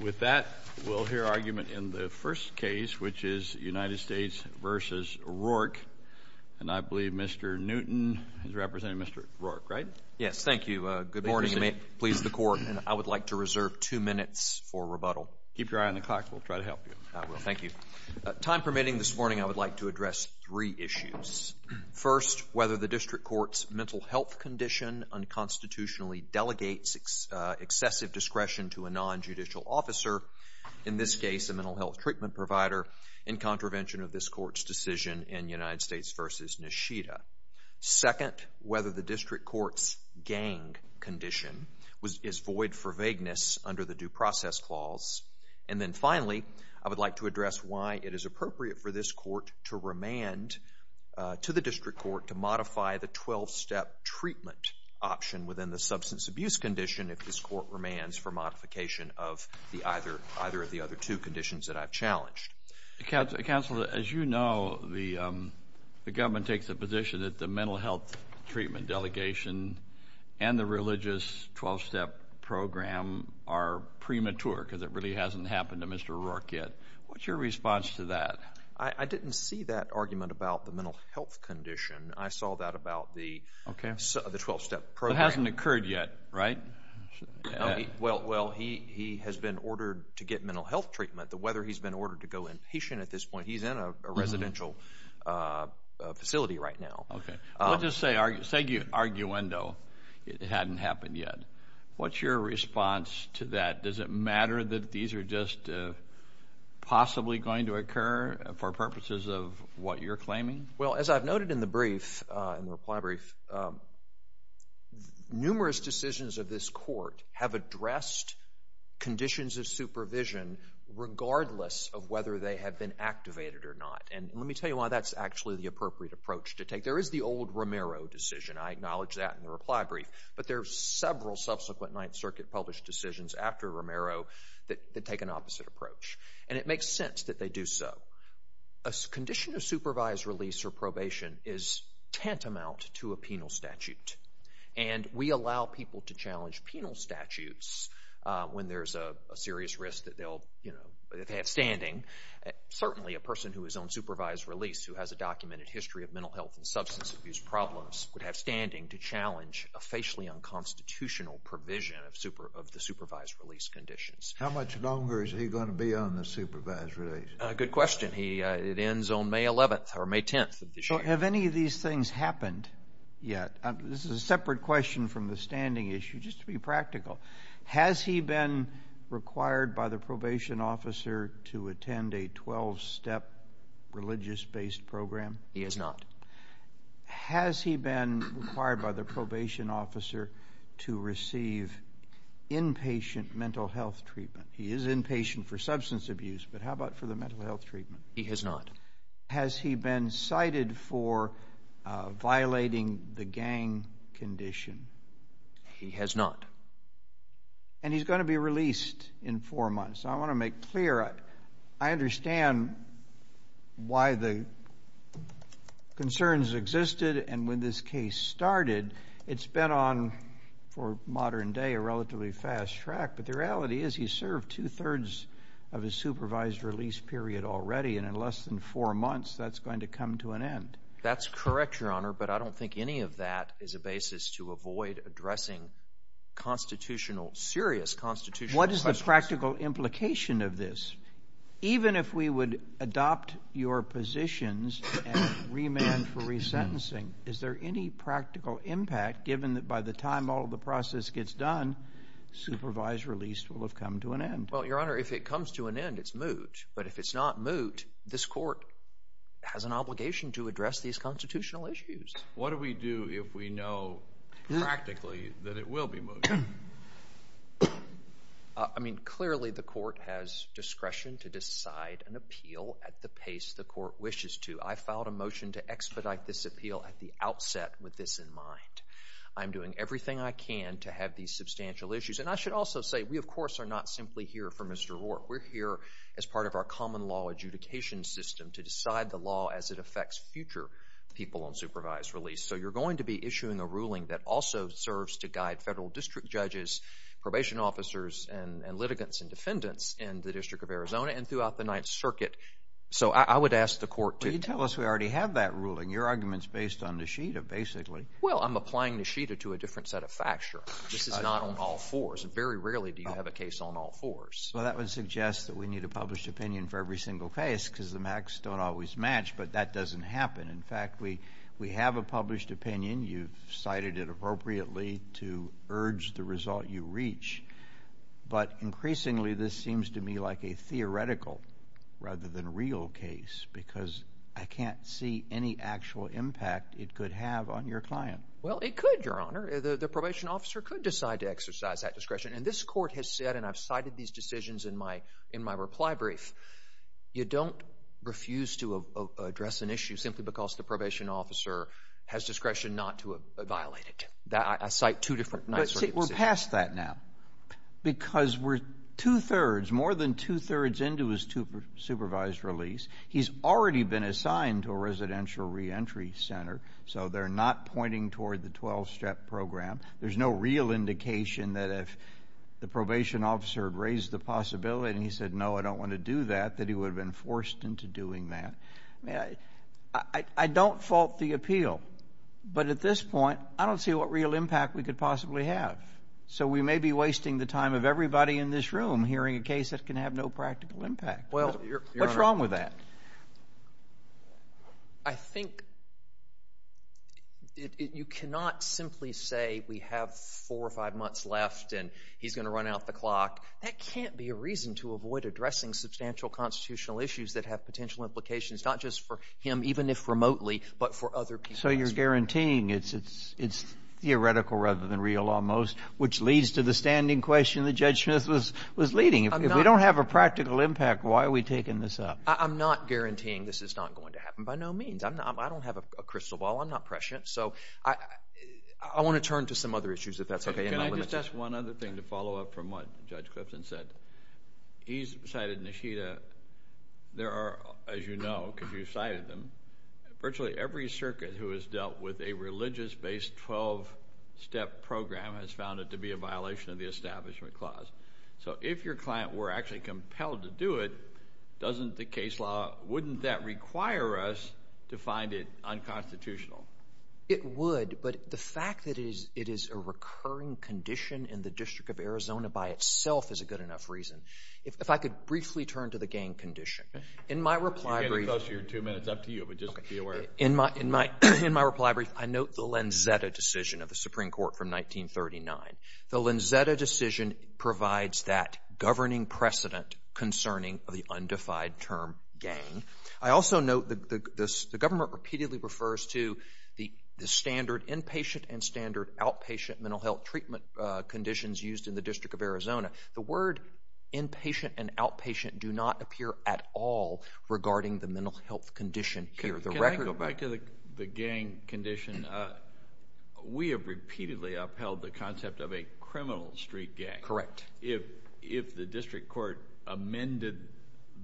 With that, we'll hear argument in the first case, which is United States v. Rourke. And I believe Mr. Newton is representing Mr. Rourke, right? Yes, thank you. Good morning. You may please the court. I would like to reserve two minutes for rebuttal. Keep your eye on the clock. We'll try to help you. I will. Thank you. Time permitting, this morning I would like to address three issues. First, whether the district court's mental health condition unconstitutionally delegates excessive discretion to a non-judicial officer, in this case a mental health treatment provider, in contravention of this court's decision in United States v. Nishida. Second, whether the district court's gang condition is void for vagueness under the due process clause. And then finally, I would like to address why it is appropriate for this court to remand to the district court to modify the 12-step treatment option within the substance abuse condition if this court remands for modification of either of the other two conditions that I've challenged. Counsel, as you know, the government takes a position that the mental health treatment delegation and the religious 12-step program are premature, because it really hasn't happened to Mr. Rourke yet. What's your response to that? I didn't see that argument about the mental health condition. I saw that about the 12-step program. It hasn't occurred yet, right? Well, he has been ordered to get mental health treatment. The weather, he's been ordered to go inpatient at this point. He's in a residential facility right now. Okay. Let's just say arguendo, it hadn't happened yet. What's your response to that? Does it matter that these are just possibly going to occur for purposes of what you're claiming? Well, as I've noted in the brief, in the reply brief, numerous decisions of this court have addressed conditions of supervision regardless of whether they have been activated or not. And let me tell you why that's actually the appropriate approach to take. There is the old Romero decision. I acknowledge that in the reply brief. But there are several subsequent Ninth Circuit-published decisions after Romero that take an opposite approach. And it makes sense that they do so. A condition of supervised release or probation is tantamount to a penal statute. And we allow people to challenge penal statutes when there's a serious risk that they'll, you know, that they have standing. Certainly, a person who is on supervised release who has a documented history of mental health and substance abuse problems would have standing to challenge a facially unconstitutional provision of the supervised release conditions. How much longer is he going to be on the supervised release? Good question. It ends on May 11th or May 10th of this year. Have any of these things happened yet? This is a separate question from the standing issue. Just to be practical, has he been required by the probation officer to attend a 12-step religious-based program? He has not. Has he been required by the probation officer to receive inpatient mental health treatment? He is inpatient for substance abuse, but how about for the mental health treatment? He has not. Has he been cited for violating the gang condition? He has not. And he's going to be released in four months. I want to make clear, I understand why the concerns existed and when this case started. It's been on, for modern day, a relatively fast track, but the reality is he served two-thirds of his supervised release period already and in less than four months, that's going to come to an end. That's correct, Your Honor, but I don't think any of that is a basis to avoid addressing constitutional, serious constitutional questions. What is the practical implication of this? Even if we would adopt your positions and remand for resentencing, is there any practical impact, given that by the time all of the process gets done, supervised release will have come to an end? Well, Your Honor, if it comes to an end, it's moot, but if it's not moot, this court has an obligation to address these constitutional issues. What do we do if we know practically that it will be moot? I mean, clearly the court has discretion to decide an appeal at the pace the court wishes to. I filed a motion to expedite this appeal at the outset with this in mind. I'm doing everything I can to have these substantial issues. And I should also say, we, of course, are not simply here for Mr. Rourke. We're here as part of our common law adjudication system to decide the law as it affects future people on supervised release. So you're going to be issuing a ruling that also serves to guide federal district judges, probation officers, and litigants and defendants in the District of Arizona and throughout the Ninth Circuit. So I would ask the court to... But you tell us we already have that ruling. Your argument's based on Nishida, basically. Well, I'm applying Nishida to a different set of facts, Your Honor. This is not on all fours. Very rarely do you have a case on all fours. Well, that would suggest that we need a published opinion for every single case because the facts don't always match, but that doesn't happen. In fact, we have a published opinion. You've cited it appropriately to urge the result you reach. But increasingly, this seems to me like a theoretical rather than real case because I can't see any actual impact it could have on your client. Well, it could, Your Honor. The probation officer could decide to exercise that discretion. And this court has said, and I've cited these decisions in my reply brief, you don't refuse to address an issue simply because the probation officer has discretion not to violate it. I cite two different... But see, we're past that now because we're two-thirds, more than two-thirds into his supervised release. He's already been assigned to a residential reentry center, so they're not pointing toward the 12-step program. There's no real indication that if the probation officer had raised the possibility and he said, no, I don't want to do that, that he would have been forced into doing that. I mean, I don't fault the appeal. But at this point, I don't see what real impact we could possibly have. So we may be wasting the time of everybody in this room hearing a case that can have no practical impact. Well, Your Honor... What's wrong with that? I think you cannot simply say we have four or five months left and he's going to run out the clock. That can't be a reason to avoid addressing substantial constitutional issues that have potential implications not just for him, even if remotely, but for other people as well. So you're guaranteeing it's theoretical rather than real almost, which leads to the standing question that Judge Smith was leading. If we don't have a practical impact, why are we taking this up? I'm not guaranteeing this is not going to happen by no means. I don't have a crystal ball. I'm not prescient. So I want to turn to some other issues, if that's okay. Can I just ask one other thing to follow up from what Judge Clipson said? He's cited Nishida. There are, as you know, because you cited them, virtually every circuit who has dealt with a religious-based 12-step program has found it to be a violation of the Establishment Clause. So if your client were actually compelled to do it, doesn't the case law, wouldn't that require us to find it unconstitutional? It would, but the fact that it is a recurring condition in the District of Arizona by itself is a good enough reason. If I could briefly turn to the gang condition. In my reply brief... You can't get close to your two minutes. It's up to you, but just be aware. In my reply brief, I note the Lanzetta decision of the Supreme Court from 1939. The Lanzetta decision provides that governing precedent concerning the undefined term gang. I also note the government repeatedly refers to the standard inpatient and standard outpatient mental health treatment conditions used in the District of Arizona. The word inpatient and outpatient do not appear at all regarding the mental health condition here. Can I go back to the gang condition? We have repeatedly upheld the concept of a criminal street gang. Correct. If the District Court amended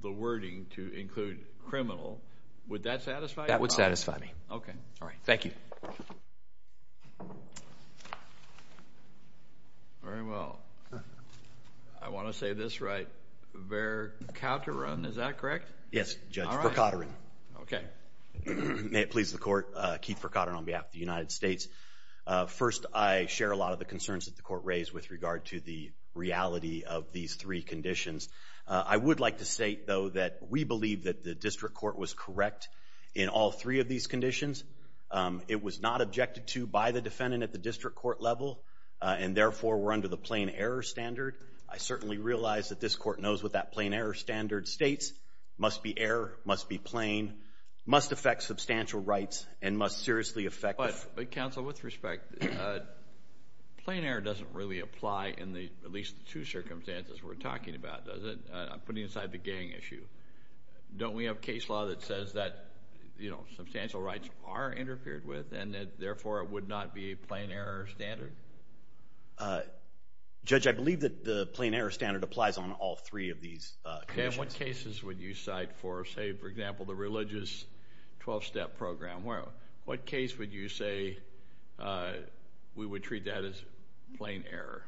the wording to include criminal, would that satisfy you? That would satisfy me. Okay. Thank you. Very well. I want to say this right. Verkateran, is that correct? Yes, Judge. Verkateran. Okay. May it please the Court. Keith Verkateran on behalf of the United States. First, I share a lot of the concerns that the Court raised with regard to the reality of these three conditions. I would like to say, though, that we believe that the District Court was correct in all three of these conditions. It was not objected to by the defendant at the District Court level and, therefore, were under the plain error standard. I certainly realize that this Court knows what that plain error standard states. Must be error. Must be plain. Must affect substantial rights and must seriously affect... Counsel, with respect, plain error doesn't really apply in at least the two circumstances we're talking about, does it? I'm putting aside the gang issue. Don't we have case law that says that, you know, substantial rights are interfered with and, therefore, it would not be a plain error standard? Judge, I believe that the plain error standard applies on all three of these conditions. And what cases would you cite for, say, for example, the religious 12-step program? What case would you say we would treat that as plain error?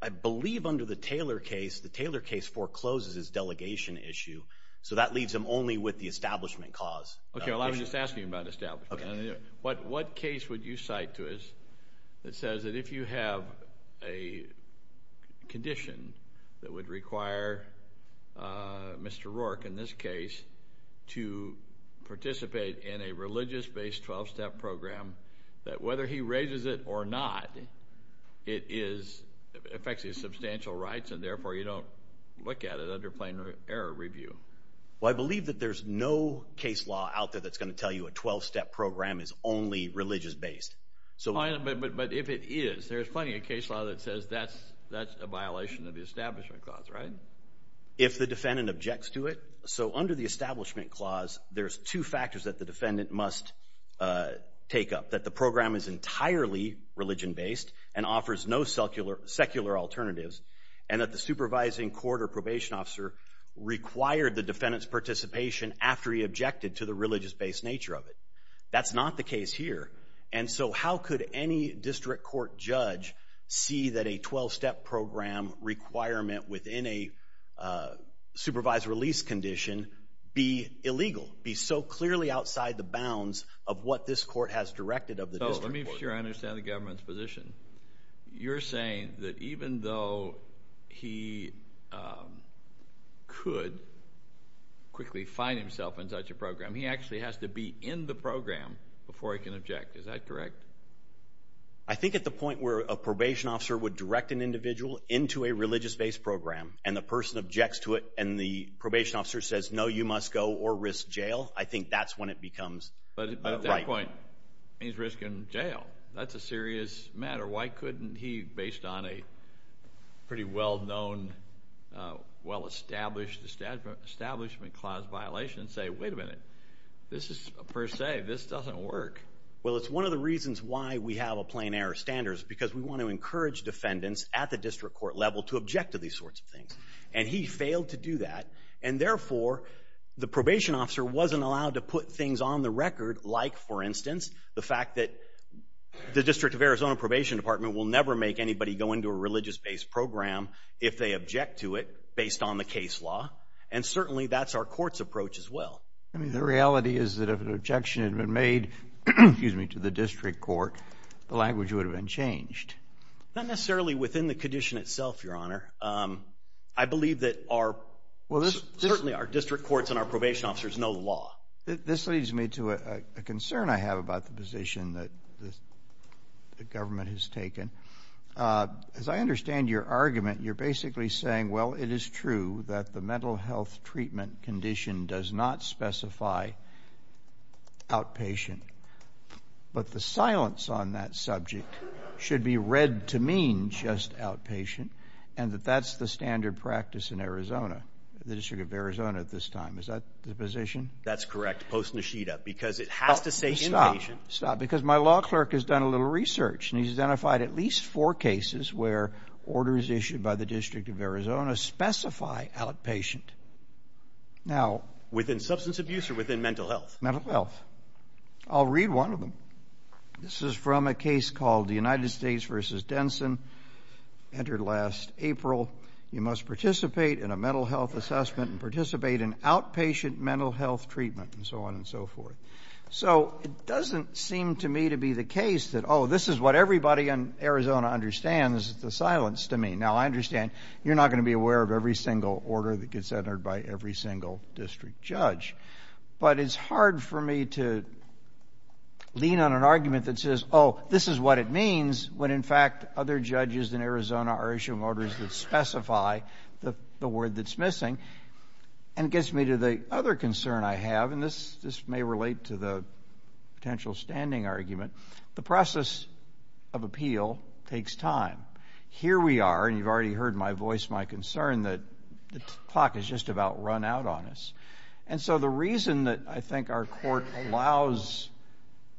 I believe under the Taylor case, the Taylor case forecloses his delegation issue. So that leaves him only with the establishment cause. Okay, well, I'm just asking about establishment. What case would you cite to us that says that if you have a condition that would require Mr. Rourke, in this case, to participate in a religious-based 12-step program, that whether he raises it or not, it affects his substantial rights and, therefore, you don't look at it under plain error review? Well, I believe that there's no case law out there that's going to tell you a 12-step program is only religious-based. But if it is, there's plenty of case law that says that's a violation of the establishment clause, right? If the defendant objects to it. So under the establishment clause, there's two factors that the defendant must take up. That the program is entirely religion-based and offers no secular alternatives and that the supervising court or probation officer required the defendant's participation after he objected to the religious-based nature of it. That's not the case here. And so how could any district court judge see that a 12-step program requirement within a supervised release condition be illegal, be so clearly outside the bounds of what this court has directed of the district court? So let me make sure I understand the government's position. You're saying that even though he could quickly find himself in such a program, he actually has to be in the program before he can object. Is that correct? I think at the point where a probation officer would direct an individual into a religious-based program and the person objects to it and the probation officer says, no, you must go or risk jail, I think that's when it becomes a right. But at that point, he's risking jail. That's a serious matter. Why couldn't he, based on a pretty well-known, well-established establishment clause violation, say, wait a minute, this is per se, this doesn't work? Well, it's one of the reasons why we have a plain error standard is because we want to encourage defendants at the district court level to object to these sorts of things. And he failed to do that, and therefore the probation officer wasn't allowed to put things on the record like, for instance, the fact that the District of Arizona Probation Department will never make anybody go into a religious-based program if they object to it based on the case law. And certainly that's our court's approach as well. The reality is that if an objection had been made to the district court, the language would have been changed. Not necessarily within the condition itself, Your Honor. I believe that certainly our district courts and our probation officers know the law. This leads me to a concern I have about the position that the government has taken. As I understand your argument, you're basically saying, well, it is true that the mental health treatment condition does not specify outpatient, but the silence on that subject should be read to mean just outpatient and that that's the standard practice in Arizona, the District of Arizona at this time. Is that the position? That's correct, post-Neshita, because it has to say inpatient. Stop, stop, because my law clerk has done a little research and he's identified at least four cases where orders issued by the District of Arizona specify outpatient. Within substance abuse or within mental health? Mental health. I'll read one of them. This is from a case called the United States v. Denson, entered last April. You must participate in a mental health assessment and participate in outpatient mental health treatment, and so on and so forth. So it doesn't seem to me to be the case that, oh, this is what everybody in Arizona understands the silence to mean. Now, I understand you're not going to be aware of every single order that gets entered by every single district judge, but it's hard for me to lean on an argument that says, oh, this is what it means when, in fact, other judges in Arizona are issuing orders that specify the word that's missing. And it gets me to the other concern I have, and this may relate to the potential standing argument. The process of appeal takes time. Here we are, and you've already heard my voice, my concern, that the clock has just about run out on us. And so the reason that I think our court allows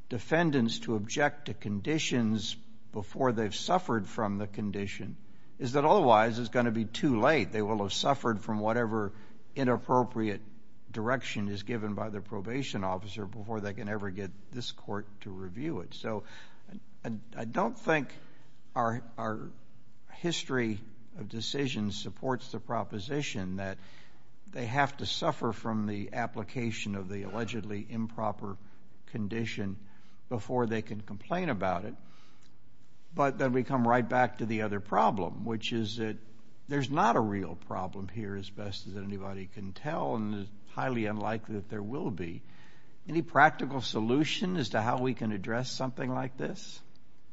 defendants to object to conditions before they've suffered from the condition is that otherwise it's going to be too late. They will have suffered from whatever inappropriate direction is given by the probation officer before they can ever get this court to review it. So I don't think our history of decisions supports the proposition that they have to suffer from the application of the allegedly improper condition before they can complain about it. But then we come right back to the other problem, which is that there's not a real problem here, as best as anybody can tell, and it's highly unlikely that there will be. Any practical solution as to how we can address something like this?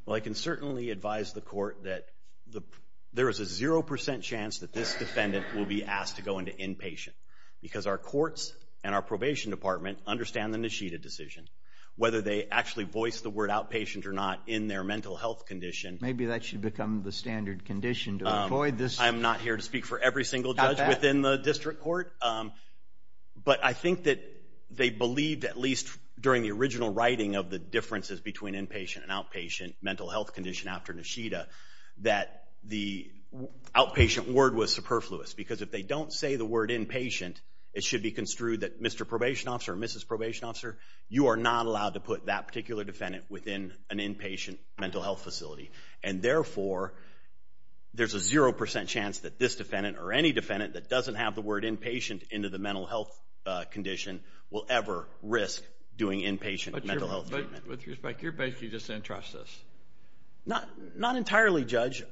Well, I can certainly advise the court that there is a 0% chance that this defendant will be asked to go into inpatient because our courts and our probation department understand the Nishida decision. Whether they actually voice the word outpatient or not in their mental health condition. Maybe that should become the standard condition to avoid this. I'm not here to speak for every single judge within the district court, but I think that they believed at least during the original writing of the differences between inpatient and outpatient mental health condition after Nishida that the outpatient word was superfluous because if they don't say the word inpatient, it should be construed that Mr. Probation Officer or Mrs. Probation Officer, you are not allowed to put that particular defendant within an inpatient mental health facility. And therefore, there's a 0% chance that this defendant or any defendant that doesn't have the word inpatient into the mental health condition will ever risk doing inpatient mental health treatment. With respect, you're basically just saying trust us. Not entirely, Judge.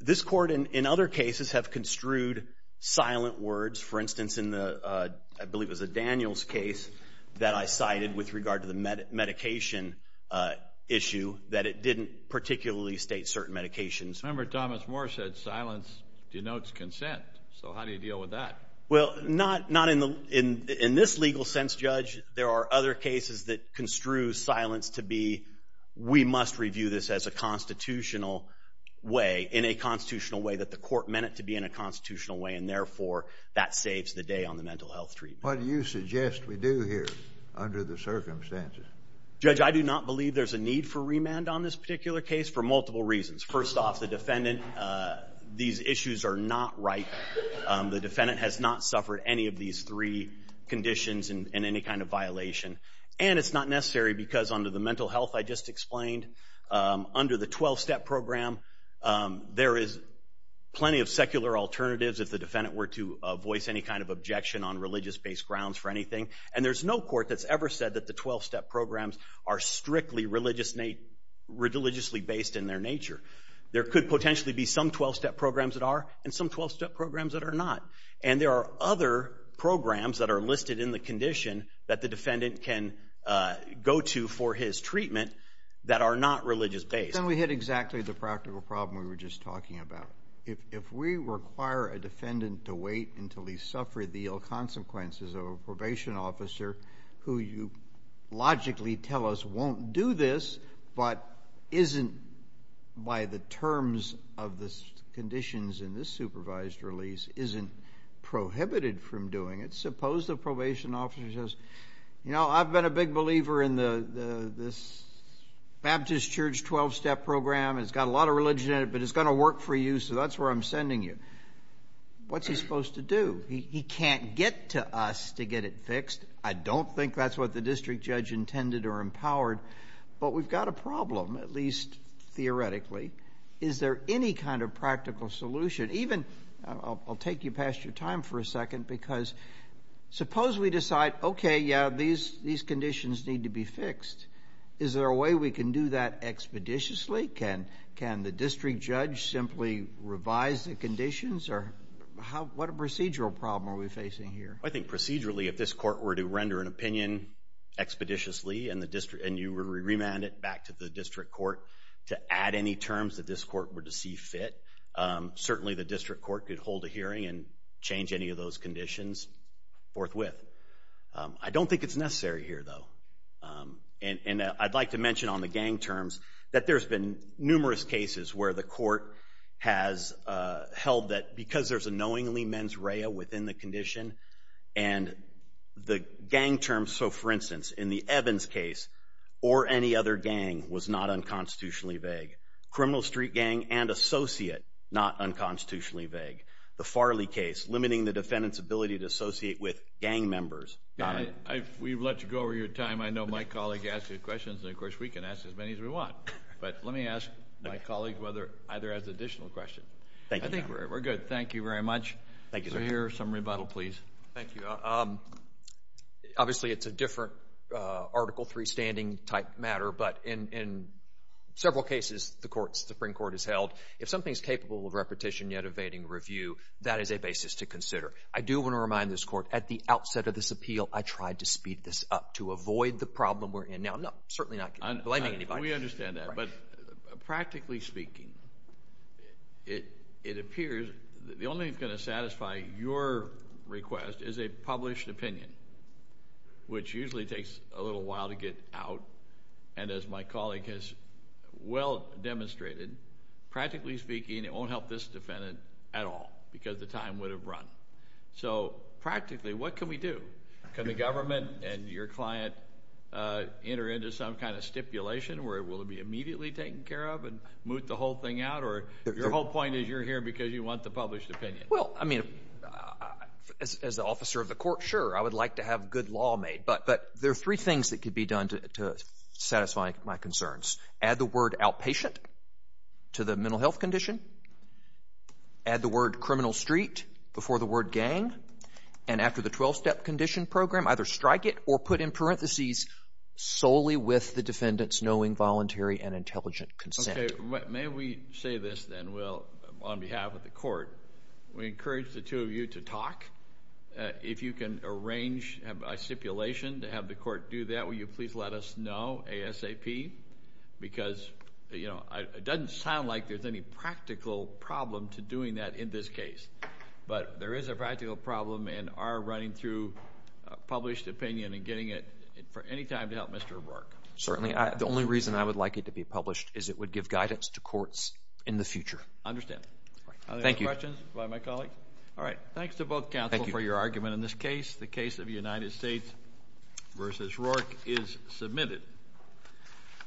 This court, in other cases, have construed silent words. For instance, I believe it was a Daniels case that I cited with regard to the medication issue that it didn't particularly state certain medications. I remember Thomas Moore said silence denotes consent. So how do you deal with that? Well, not in this legal sense, Judge. There are other cases that construe silence to be we must review this as a constitutional way, in a constitutional way that the court meant it to be in a constitutional way, and therefore that saves the day on the mental health treatment. What do you suggest we do here under the circumstances? Judge, I do not believe there's a need for remand on this particular case for multiple reasons. First off, the defendant, these issues are not right. The defendant has not suffered any of these three conditions in any kind of violation. And it's not necessary because under the mental health I just explained, under the 12-step program, there is plenty of secular alternatives if the defendant were to voice any kind of objection on religious-based grounds for anything. And there's no court that's ever said that the 12-step programs are strictly religiously based in their nature. There could potentially be some 12-step programs that are and some 12-step programs that are not. And there are other programs that are listed in the condition that the defendant can go to for his treatment that are not religious-based. Then we hit exactly the practical problem we were just talking about. If we require a defendant to wait until he's suffered the ill consequences of a probation officer who you logically tell us won't do this but isn't by the terms of the conditions in this supervised release, isn't prohibited from doing it, suppose the probation officer says, you know, I've been a big believer in this Baptist Church 12-step program. It's got a lot of religion in it, but it's going to work for you, so that's where I'm sending you. What's he supposed to do? He can't get to us to get it fixed. I don't think that's what the district judge intended or empowered. But we've got a problem, at least theoretically. Is there any kind of practical solution? I'll take you past your time for a second because suppose we decide, okay, yeah, these conditions need to be fixed. Is there a way we can do that expeditiously? Can the district judge simply revise the conditions? What procedural problem are we facing here? I think procedurally, if this court were to render an opinion expeditiously and you remand it back to the district court to add any terms that this court were to see fit, certainly the district court could hold a hearing and change any of those conditions forthwith. I don't think it's necessary here, though. And I'd like to mention on the gang terms that there's been numerous cases where the court has held that because there's a knowingly mens rea within the condition and the gang terms, so for instance, in the Evans case or any other gang was not unconstitutionally vague. Criminal street gang and associate, not unconstitutionally vague. The Farley case, limiting the defendant's ability to associate with gang members. We've let you go over your time. I know my colleague asked you questions, and, of course, we can ask as many as we want. But let me ask my colleague whether either has additional questions. I think we're good. Thank you very much. So here's some rebuttal, please. Thank you. Obviously, it's a different Article III standing type matter, but in several cases the Supreme Court has held if something is capable of repetition yet evading review, that is a basis to consider. I do want to remind this court at the outset of this appeal, I tried to speed this up to avoid the problem we're in. Now, I'm certainly not blaming anybody. We understand that. But practically speaking, it appears the only thing that's going to satisfy your request is a published opinion, which usually takes a little while to get out. And as my colleague has well demonstrated, practically speaking, it won't help this defendant at all because the time would have run. So practically, what can we do? Can the government and your client enter into some kind of stipulation where it will be immediately taken care of and moot the whole thing out? Or your whole point is you're here because you want the published opinion. Well, I mean, as the officer of the court, sure, I would like to have good law made. But there are three things that could be done to satisfy my concerns. Add the word outpatient to the mental health condition. Add the word criminal street before the word gang. And after the 12-step condition program, either strike it or put in parentheses solely with the defendant's knowing, voluntary, and intelligent consent. May we say this then, Will, on behalf of the court? We encourage the two of you to talk. If you can arrange a stipulation to have the court do that, will you please let us know ASAP? Because it doesn't sound like there's any practical problem to doing that in this case. But there is a practical problem in our running through published opinion and getting it for any time to help Mr. Rourke. Certainly. The only reason I would like it to be published is it would give guidance to courts in the future. Understand. Thank you. Other questions by my colleagues? All right. Thanks to both counsel for your argument on this case. The case of United States v. Rourke is submitted.